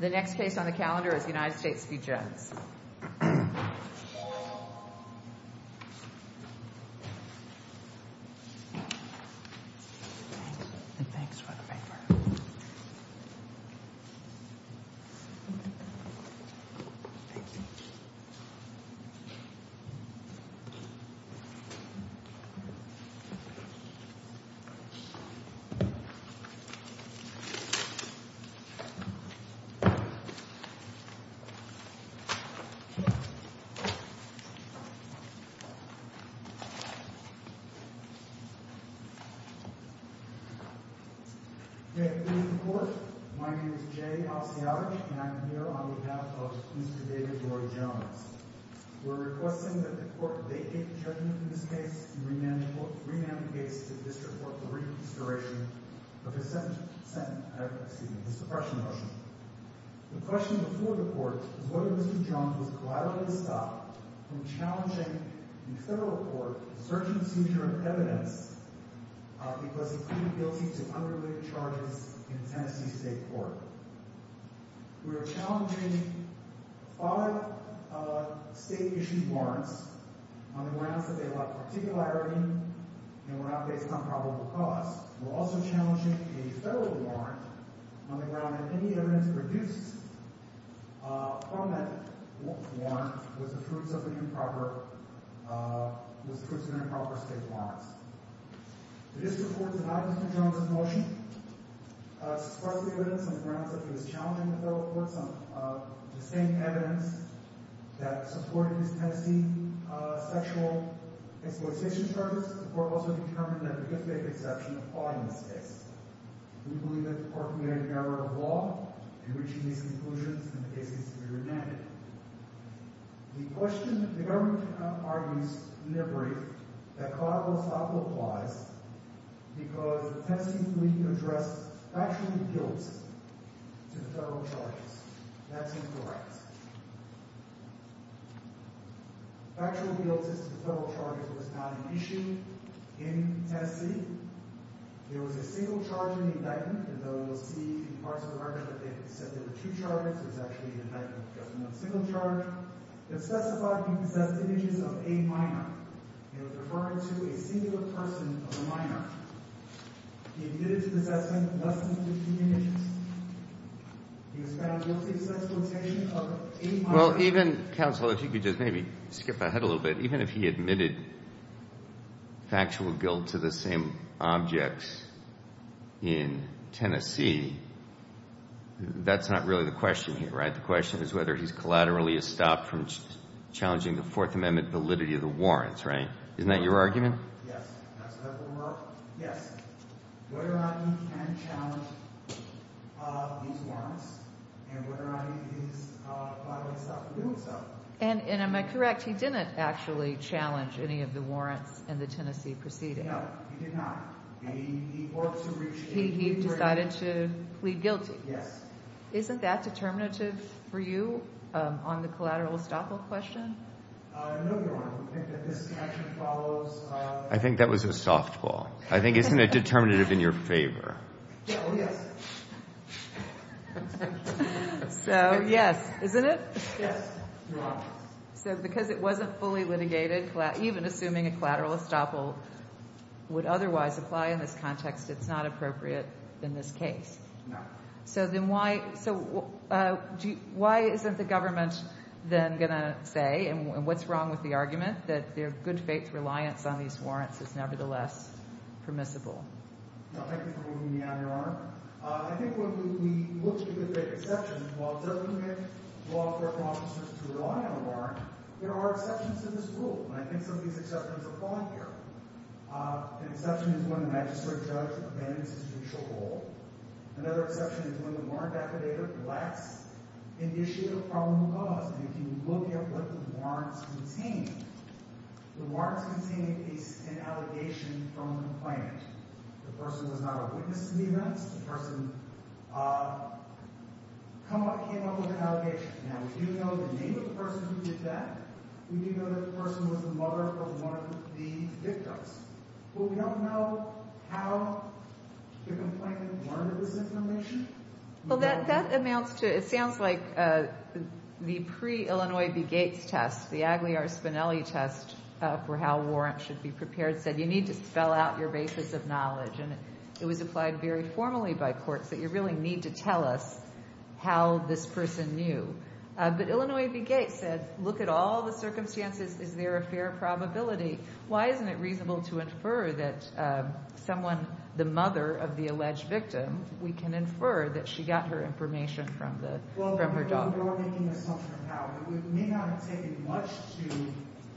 The next case on the calendar is the United States v. Jones. We are requesting that the court vacate the judgment in this case and rename the case to the District Court for reconsideration of his suppression motion. The question before the court is whether Mr. Jones was collaterally stopped from challenging the federal court for search and seizure of evidence because he could be guilty to unrelated charges in Tennessee State Court. We are challenging five state-issued warrants on the grounds that they lack particularity and were not based on probable cause. We are also challenging a federal warrant on the grounds that any evidence produced from that warrant was the fruits of improper state warrants. The District Court has adopted Mr. Jones's motion. It supports the evidence on the grounds that he was challenging the federal courts on the same evidence that supported his Tennessee sexual exploitation charges. First, the court also determined that there could be a conception of fraud in this case. We believe that the court committed an error of law in reaching these conclusions and the case needs to be renamed. The question therein argues, in a brief, that collateral stop applies because Tennessee was not an issue in Tennessee. There was a single charge in the indictment, and though we'll see in parts of the record that it said there were two charges, there was actually an indictment with just one single charge. It specified he possessed images of a minor. It was referring to a singular person of a minor. He admitted to possessing less than 15 images. He was found guilty of sexual exploitation of a minor. Well, even, counsel, if you could just maybe skip ahead a little bit. Even if he admitted factual guilt to the same objects in Tennessee, that's not really the question here, right? The question is whether he's collaterally stopped from challenging the Fourth Amendment validity of the warrants, right? Isn't that your argument? Yes. That's what we're arguing. Yes. We're arguing he can challenge these warrants, and we're arguing he's collaterally stopped from doing so. And am I correct? He didn't actually challenge any of the warrants in the Tennessee proceeding. No, he did not. He ordered to reach a degree of... He decided to plead guilty. Yes. Isn't that determinative for you on the collateral stop-all question? No, Your Honor. We think that this action follows... I think that was a softball. I think isn't it determinative in your favor? Oh, yes. So, yes, isn't it? Yes, Your Honor. So because it wasn't fully litigated, even assuming a collateral stop-all would otherwise apply in this context, it's not appropriate in this case. No. So then why isn't the government then going to say, and what's wrong with the argument, that their good faith reliance on these warrants is nevertheless permissible? Thank you for moving me on, Your Honor. I think when we look at good faith exceptions, while government law enforcement officers rely on the warrant, there are exceptions to this rule. And I think some of these exceptions apply here. An exception is when the magistrate judge abandons his judicial role. Another exception is when the warrant activator lacks an issue of probable cause. And if you look at what the warrants contain, the warrants contain an allegation from the complainant. The person was not a witness to the events. The person came up with an allegation. Now, we do know the name of the person who did that. We do know that the person was the mother of one of the victims. But we don't know how the complainant learned of this information. Well, that amounts to, it sounds like the pre-Illinois v. Gates test, the Agliar-Spinelli test, for how warrants should be prepared, said you need to spell out your basis of knowledge. And it was applied very formally by courts, that you really need to tell us how this person knew. But Illinois v. Gates said, look at all the circumstances. Is there a fair probability? Why isn't it reasonable to infer that someone, the mother of the alleged victim, we can infer that she got her information from her daughter? Well, we're making an assumption of how. It may not have taken much to.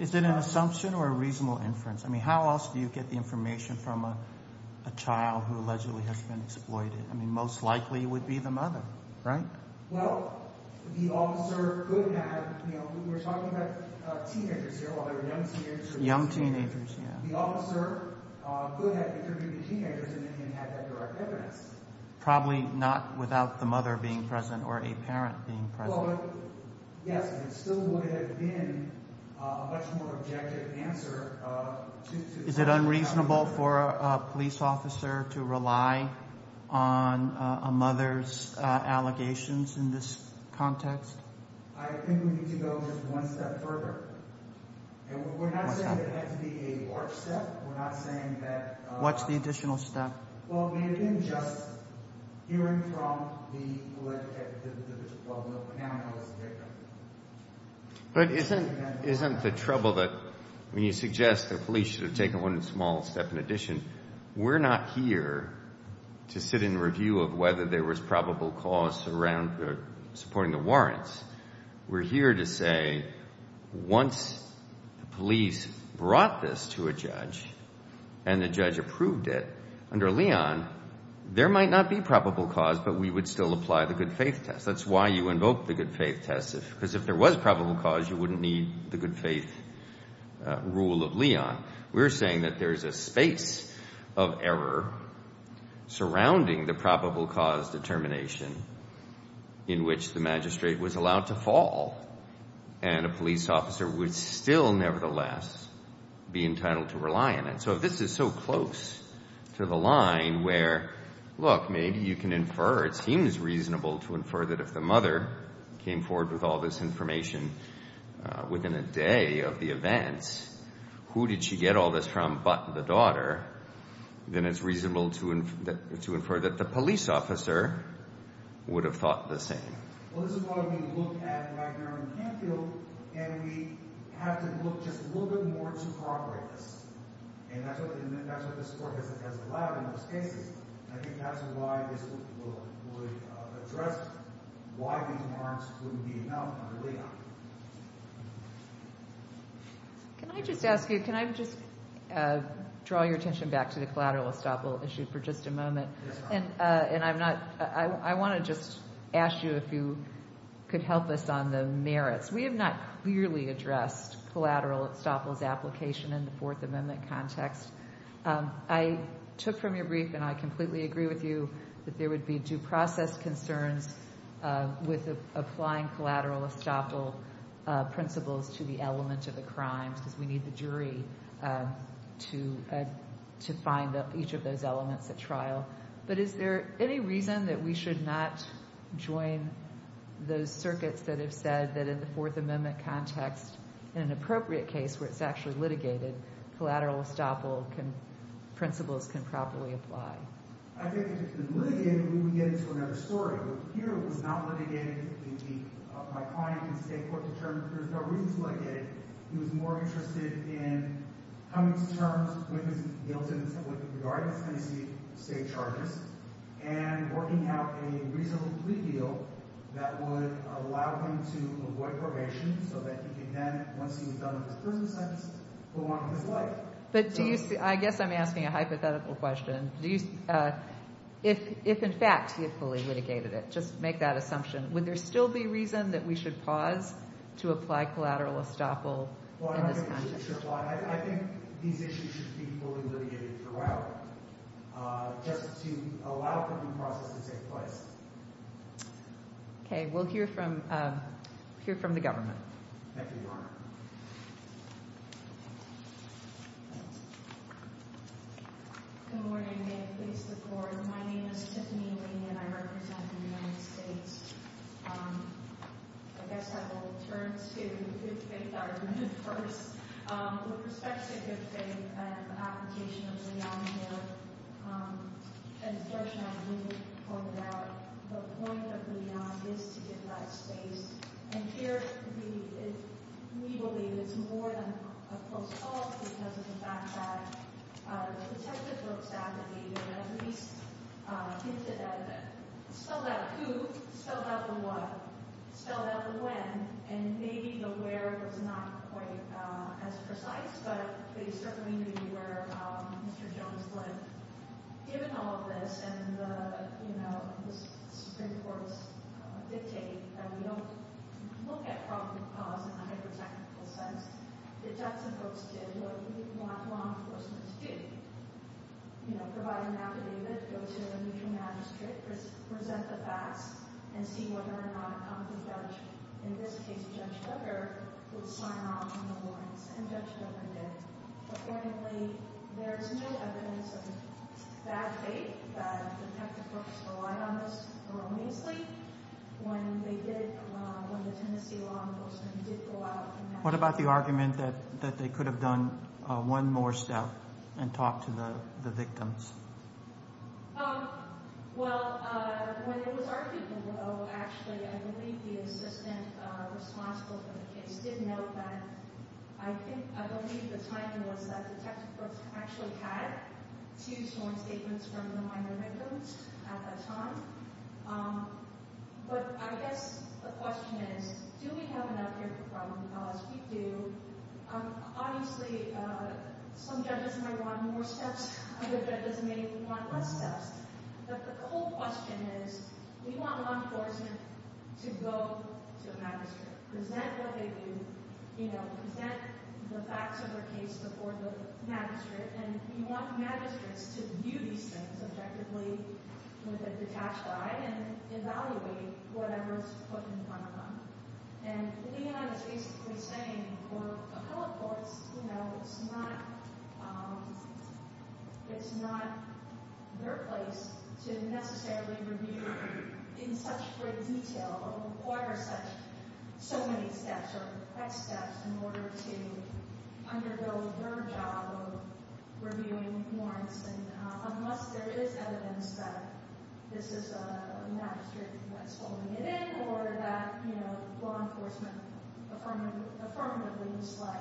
Is it an assumption or a reasonable inference? I mean, how else do you get the information from a child who allegedly has been exploited? I mean, most likely it would be the mother, right? Well, the officer could have, you know, we're talking about teenagers here, young teenagers, yeah. Probably not without the mother being present or a parent being present. Is it unreasonable for a police officer to rely on a mother's allegations in this context? We're not saying it had to be a large step. We're not saying that. What's the additional step? Well, maybe just hearing from the alleged victim. But isn't the trouble that when you suggest the police should have taken one small step in addition, we're not here to sit in review of whether there was probable cause around supporting the warrants. We're here to say once the police brought this to a judge and the judge approved it under Leon, there might not be probable cause, but we would still apply the good faith test. That's why you invoke the good faith test, because if there was probable cause, you wouldn't need the good faith rule of Leon. We're saying that there's a space of error surrounding the probable cause determination in which the magistrate was allowed to fall, and a police officer would still nevertheless be entitled to rely on it. So if this is so close to the line where, look, maybe you can infer, it seems reasonable to infer that if the mother came forward with all this information within a day of the events, who did she get all this from but the daughter, then it's reasonable to infer that the police officer would have thought the same. Well, this is why we look at Wagner and Canfield, and we have to look just a little bit more to progress, and that's what this Court has allowed in most cases. I think that's why this would address why these warrants wouldn't be enough under Leon. Can I just ask you, can I just draw your attention back to the collateral estoppel issue for just a moment? And I want to just ask you if you could help us on the merits. We have not clearly addressed collateral estoppel's application in the Fourth Amendment context. I took from your brief, and I completely agree with you, that there would be due process concerns with applying collateral estoppel principles to the element of the crime because we need the jury to find each of those elements at trial. But is there any reason that we should not join those circuits that have said that in the Fourth Amendment context, in an appropriate case where it's actually litigated, collateral estoppel principles can properly apply? I think if it's been litigated, we would get into another story. But here it was not litigated. My client can stay court-determined. There's no reason to look at it. He was more interested in coming to terms with his guilt in some way in regards to Tennessee state charges and working out a reasonable plea deal that would allow him to avoid probation so that he could then, once he was done with his prison sentence, go on with his life. I guess I'm asking a hypothetical question. If, in fact, he had fully litigated it, just make that assumption, would there still be reason that we should pause to apply collateral estoppel in this context? I think these issues should be fully litigated throughout just to allow for due process to take place. Okay. We'll hear from the government. Thank you, Your Honor. Good morning. May it please the Court. My name is Tiffany Lee, and I represent the United States. I guess I will turn to the good-faith argument first. With respect to good faith and the application of Leon here, as George and I have already pointed out, the point of Leon is to give that space. And here, we believe it's more than a close call because of the fact that the detective looks at it, and at least hints at it, spells out who, spells out the what, spells out the when, and maybe the where was not quite as precise, but there's certainly going to be where Mr. Jones would have given all of this, and the Supreme Court's dictate that we don't look at probable cause in a hyper-technical sense. The Jetson folks did what we want law enforcement to do. Provide an affidavit, go to a neutral magistrate, present the facts, and see whether or not a competent judge, in this case Judge Duggar, would sign off on the warrants, and Judge Duggar did. Accordingly, there's no evidence of bad faith. The detective folks relied on this erroneously when they did, when the Tennessee law enforcement did go out. What about the argument that they could have done one more step and talked to the victims? Well, when it was argued, actually, I believe the assistant responsible for the case did note that, I think, I believe the timer was that the detective folks actually had two sworn statements from the minor victims at that time. But I guess the question is, do we have enough here for probable cause? We do. Obviously, some judges may want more steps, other judges may want less steps. But the whole question is, we want law enforcement to go to a magistrate, present what they do, present the facts of their case before the magistrate, and we want magistrates to view these things objectively, with a detached eye, and evaluate whatever is put in front of them. And Leon is basically saying, for appellate courts, it's not their place to necessarily review in such great detail, or require so many steps or quick steps in order to undergo their job of reviewing warrants, unless there is evidence that this is a magistrate that's holding it in, or that law enforcement affirmatively misled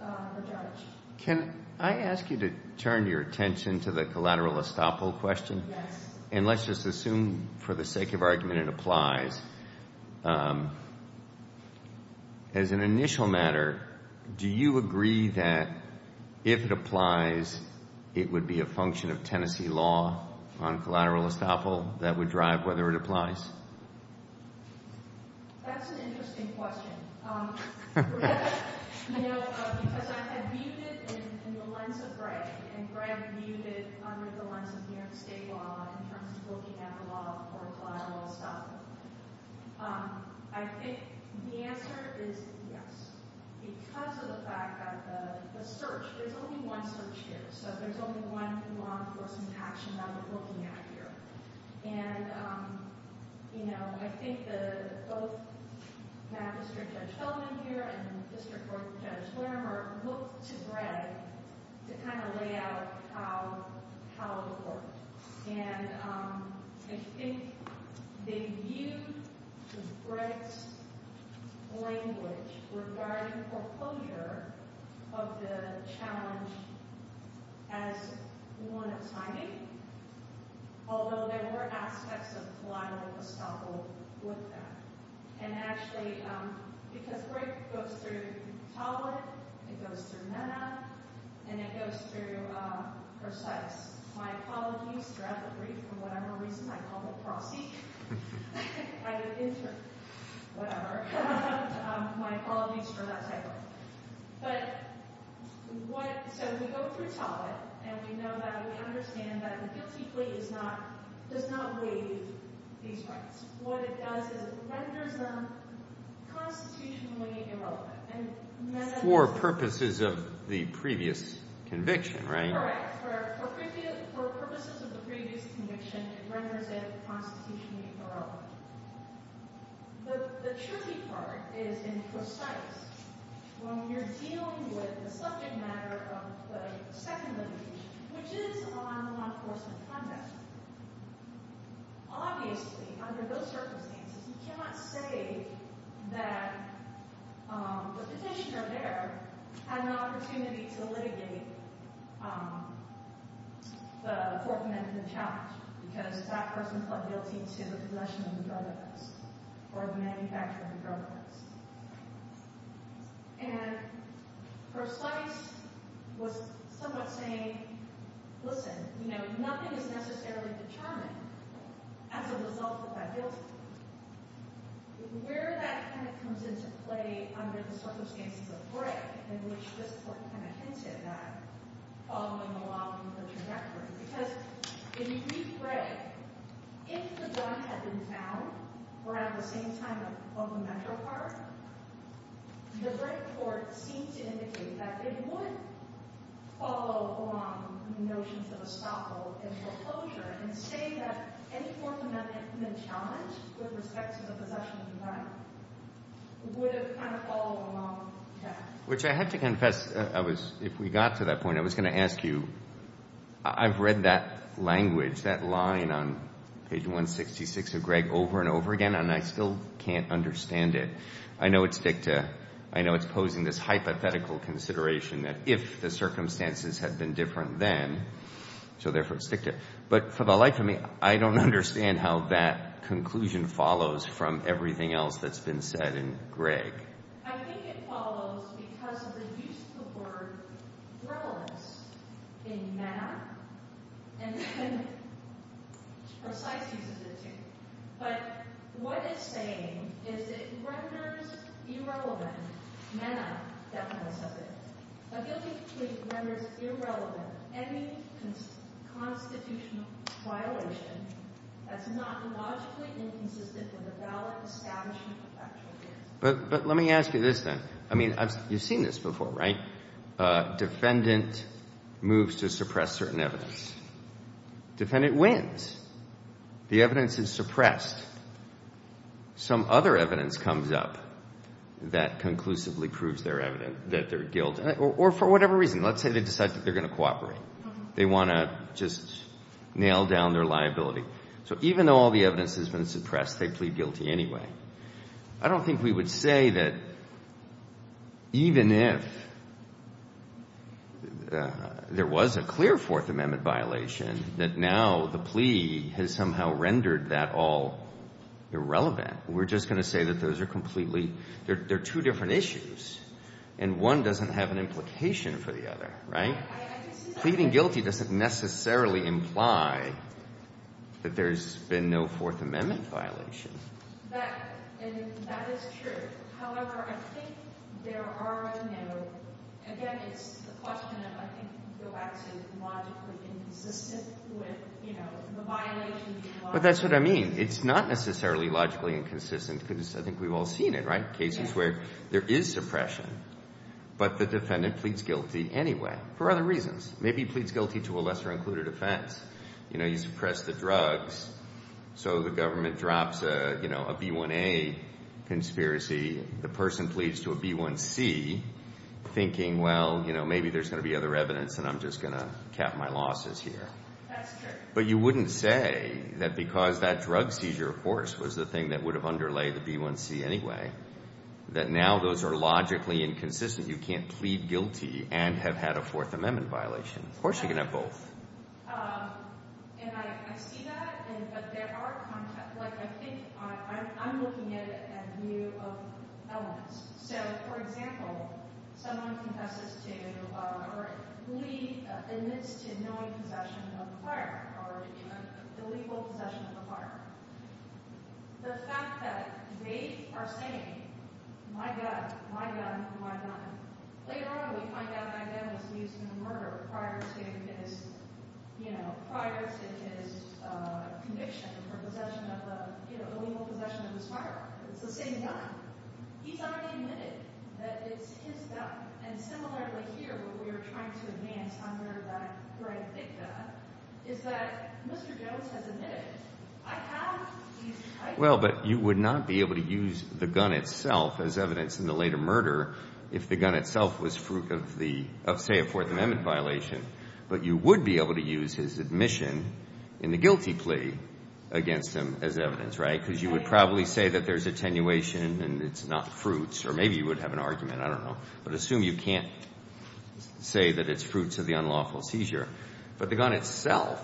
the judge. Can I ask you to turn your attention to the collateral estoppel question? Yes. And let's just assume, for the sake of argument, it applies. As an initial matter, do you agree that if it applies, it would be a function of Tennessee law on collateral estoppel that would drive whether it applies? That's an interesting question. You know, because I viewed it in the lens of Greg, and Greg viewed it under the lens of New York state law, in terms of looking at the law of collateral estoppel. I think the answer is yes, because of the fact that the search, there's only one search here, so there's only one law enforcement action that we're looking at here. And, you know, I think both Magistrate Judge Feldman here and District Court Judge Wormer looked to Greg to kind of lay out how it worked. And I think they viewed Greg's language regarding foreclosure of the challenge as one of timing, although there were aspects of collateral estoppel with that. And actually, because Greg goes through Tollett, it goes through Nenna, and it goes through Perseus. My apologies for that typo. So we go through Tollett, and we know that we understand that the guilty plea does not waive these rights. What it does is it renders them constitutionally irrelevant. For purposes of the previous conviction, right? Correct. For purposes of the previous conviction, it renders it constitutionally irrelevant. The tricky part is in precise. When you're dealing with the subject matter of the second litigation, which is on law enforcement context, obviously, under those circumstances, you cannot say that the petitioner there had an opportunity to litigate the court-mandated challenge, because that person pled guilty to the possession of the drug addicts, or the manufacturing of the drug addicts. And Perseus was somewhat saying, listen, you know, nothing is necessarily determined as a result of that guilty plea. Where that kind of comes into play under the circumstances of Greg, in which this court kind of hinted at following along the trajectory, because in brief Greg, if the drug had been found around the same time of the metro car, the Greg court seemed to indicate that it would follow along the notions of estoppel and foreclosure, and say that any court-mandated challenge with respect to the possession of the drug would have kind of followed along that. Which I have to confess, I was, if we got to that point, I was going to ask you, I've read that language, that line on page 166 of Greg over and over again, and I still can't understand it. I know it's dicta. I know it's posing this hypothetical consideration that if the circumstances had been different then, so therefore it's dicta. But for the life of me, I don't understand how that conclusion follows from everything else that's been said in Greg. I think it follows because of the use of the word relevance in MENA, and then precise uses it too. But what it's saying is it renders irrelevant MENA definition of it. A guilty plea renders irrelevant any constitutional violation that's not logically inconsistent with the valid establishment of factual evidence. But let me ask you this then. I mean, you've seen this before, right? Defendant moves to suppress certain evidence. Defendant wins. The evidence is suppressed. Some other evidence comes up that conclusively proves their guilt, or for whatever reason. Let's say they decide that they're going to cooperate. They want to just nail down their liability. So even though all the evidence has been suppressed, they plead guilty anyway. I don't think we would say that even if there was a clear Fourth Amendment violation, that now the plea has somehow rendered that all irrelevant. We're just going to say that those are completely – they're two different issues, and one doesn't have an implication for the other, right? Pleading guilty doesn't necessarily imply that there's been no Fourth Amendment violation. And that is true. However, I think there are – again, it's a question of I think you go back to logically inconsistent with the violation. But that's what I mean. It's not necessarily logically inconsistent because I think we've all seen it, right? Cases where there is suppression, but the defendant pleads guilty anyway for other reasons. Maybe he pleads guilty to a lesser-included offense. You suppress the drugs, so the government drops a B1A conspiracy. The person pleads to a B1C thinking, well, maybe there's going to be other evidence, and I'm just going to cap my losses here. That's true. But you wouldn't say that because that drug seizure, of course, was the thing that would have underlay the B1C anyway, that now those are logically inconsistent. You can't plead guilty and have had a Fourth Amendment violation. Of course you can have both. And I see that, but there are – like I think I'm looking at it as a view of elements. So, for example, someone confesses to or admits to knowing possession of a firearm or illegal possession of a firearm. The fact that they are saying, my gun, my gun, my gun, later on we find out that gun was used in the murder prior to his – you know, prior to his conviction for possession of the – you know, illegal possession of his firearm. It's the same gun. He's already admitted that it's his gun. Well, but you would not be able to use the gun itself as evidence in the later murder if the gun itself was fruit of the – of, say, a Fourth Amendment violation. But you would be able to use his admission in the guilty plea against him as evidence, right? Because you would probably say that there's attenuation and it's not fruits. Or maybe you would have an argument. I don't know. But assume you can't say that it's fruits of the unlawful seizure. But the gun itself,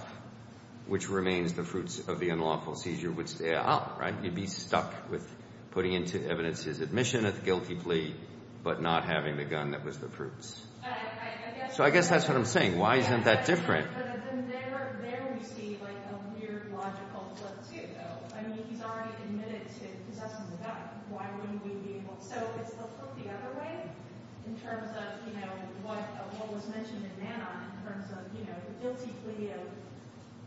which remains the fruits of the unlawful seizure, would stay out, right? You'd be stuck with putting into evidence his admission at the guilty plea but not having the gun that was the fruits. So I guess that's what I'm saying. Why isn't that different? There we see, like, a weird logical flip, too, though. I mean he's already admitted to possessing the gun. Why wouldn't we be able – so it's the flip the other way in terms of, you know, what was mentioned in Mannheim in terms of, you know, the guilty plea,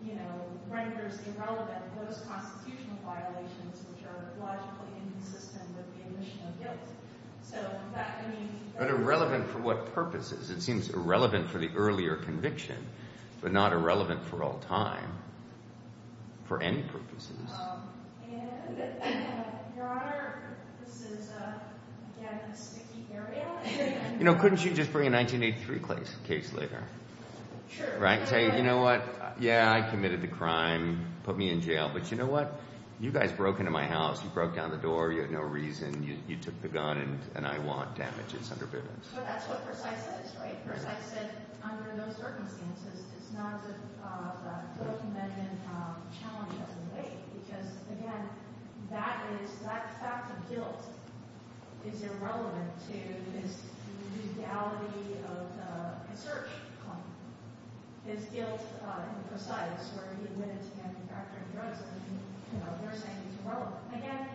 you know, renders irrelevant those constitutional violations which are logically inconsistent with the admission of guilt. So that, I mean – But irrelevant for what purposes? It seems irrelevant for the earlier conviction but not irrelevant for all time, for any purposes. You know, couldn't you just bring a 1983 case later? Sure. Right? Say, you know what? Yeah, I committed the crime. Put me in jail. But you know what? You guys broke into my house. You broke down the door. You had no reason. You took the gun and I want damages under bivvies. So that's what Forsythe says, right? Forsythe said under those circumstances it's not a broken-bedroom challenge that we make because, again, that is – that fact of guilt is irrelevant to his legality of the search. His guilt in Forsythe's where he admitted to manufacturing drugs and, you know, they're saying it's irrelevant. Again,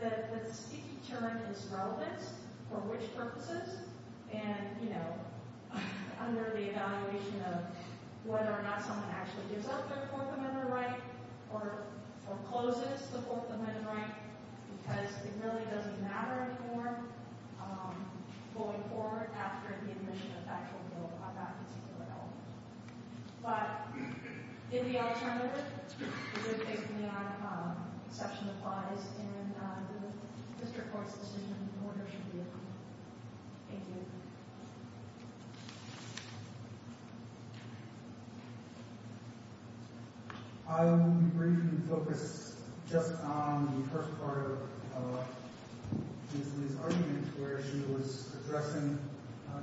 the key term is relevance for which purposes and, you know, under the evaluation of whether or not someone actually gives up their Fourth Amendment right or closes the Fourth Amendment right because it really doesn't matter anymore going forward after the admission of factual guilt on that particular element. But in the alternative, the good thing is the non-conception applies and the district court's decision in order should be approved. Thank you. Thank you. I will be briefly focused just on the first part of Ms. Lee's argument where she was addressing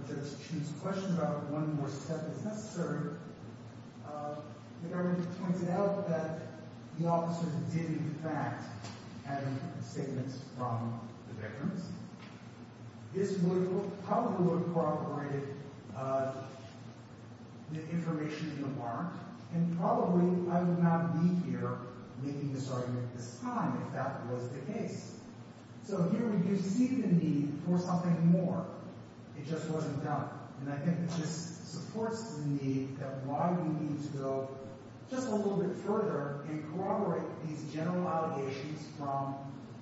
Judge Chu's question about one more step is necessary. The government pointed out that the officer did, in fact, have a statement from the victims. This probably would have corroborated the information in the warrant, and probably I would not be here making this argument at this time if that was the case. So here we do see the need for something more. It just wasn't done. And I think it just supports the need that while we need to go just a little bit further and corroborate these general allegations from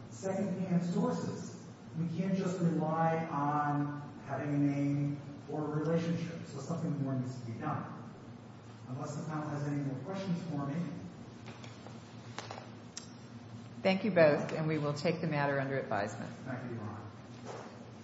secondhand sources, we can't just rely on having a name or a relationship. So something more needs to be done. Unless the panel has any more questions for me. Thank you. Thank you both, and we will take the matter under advisement.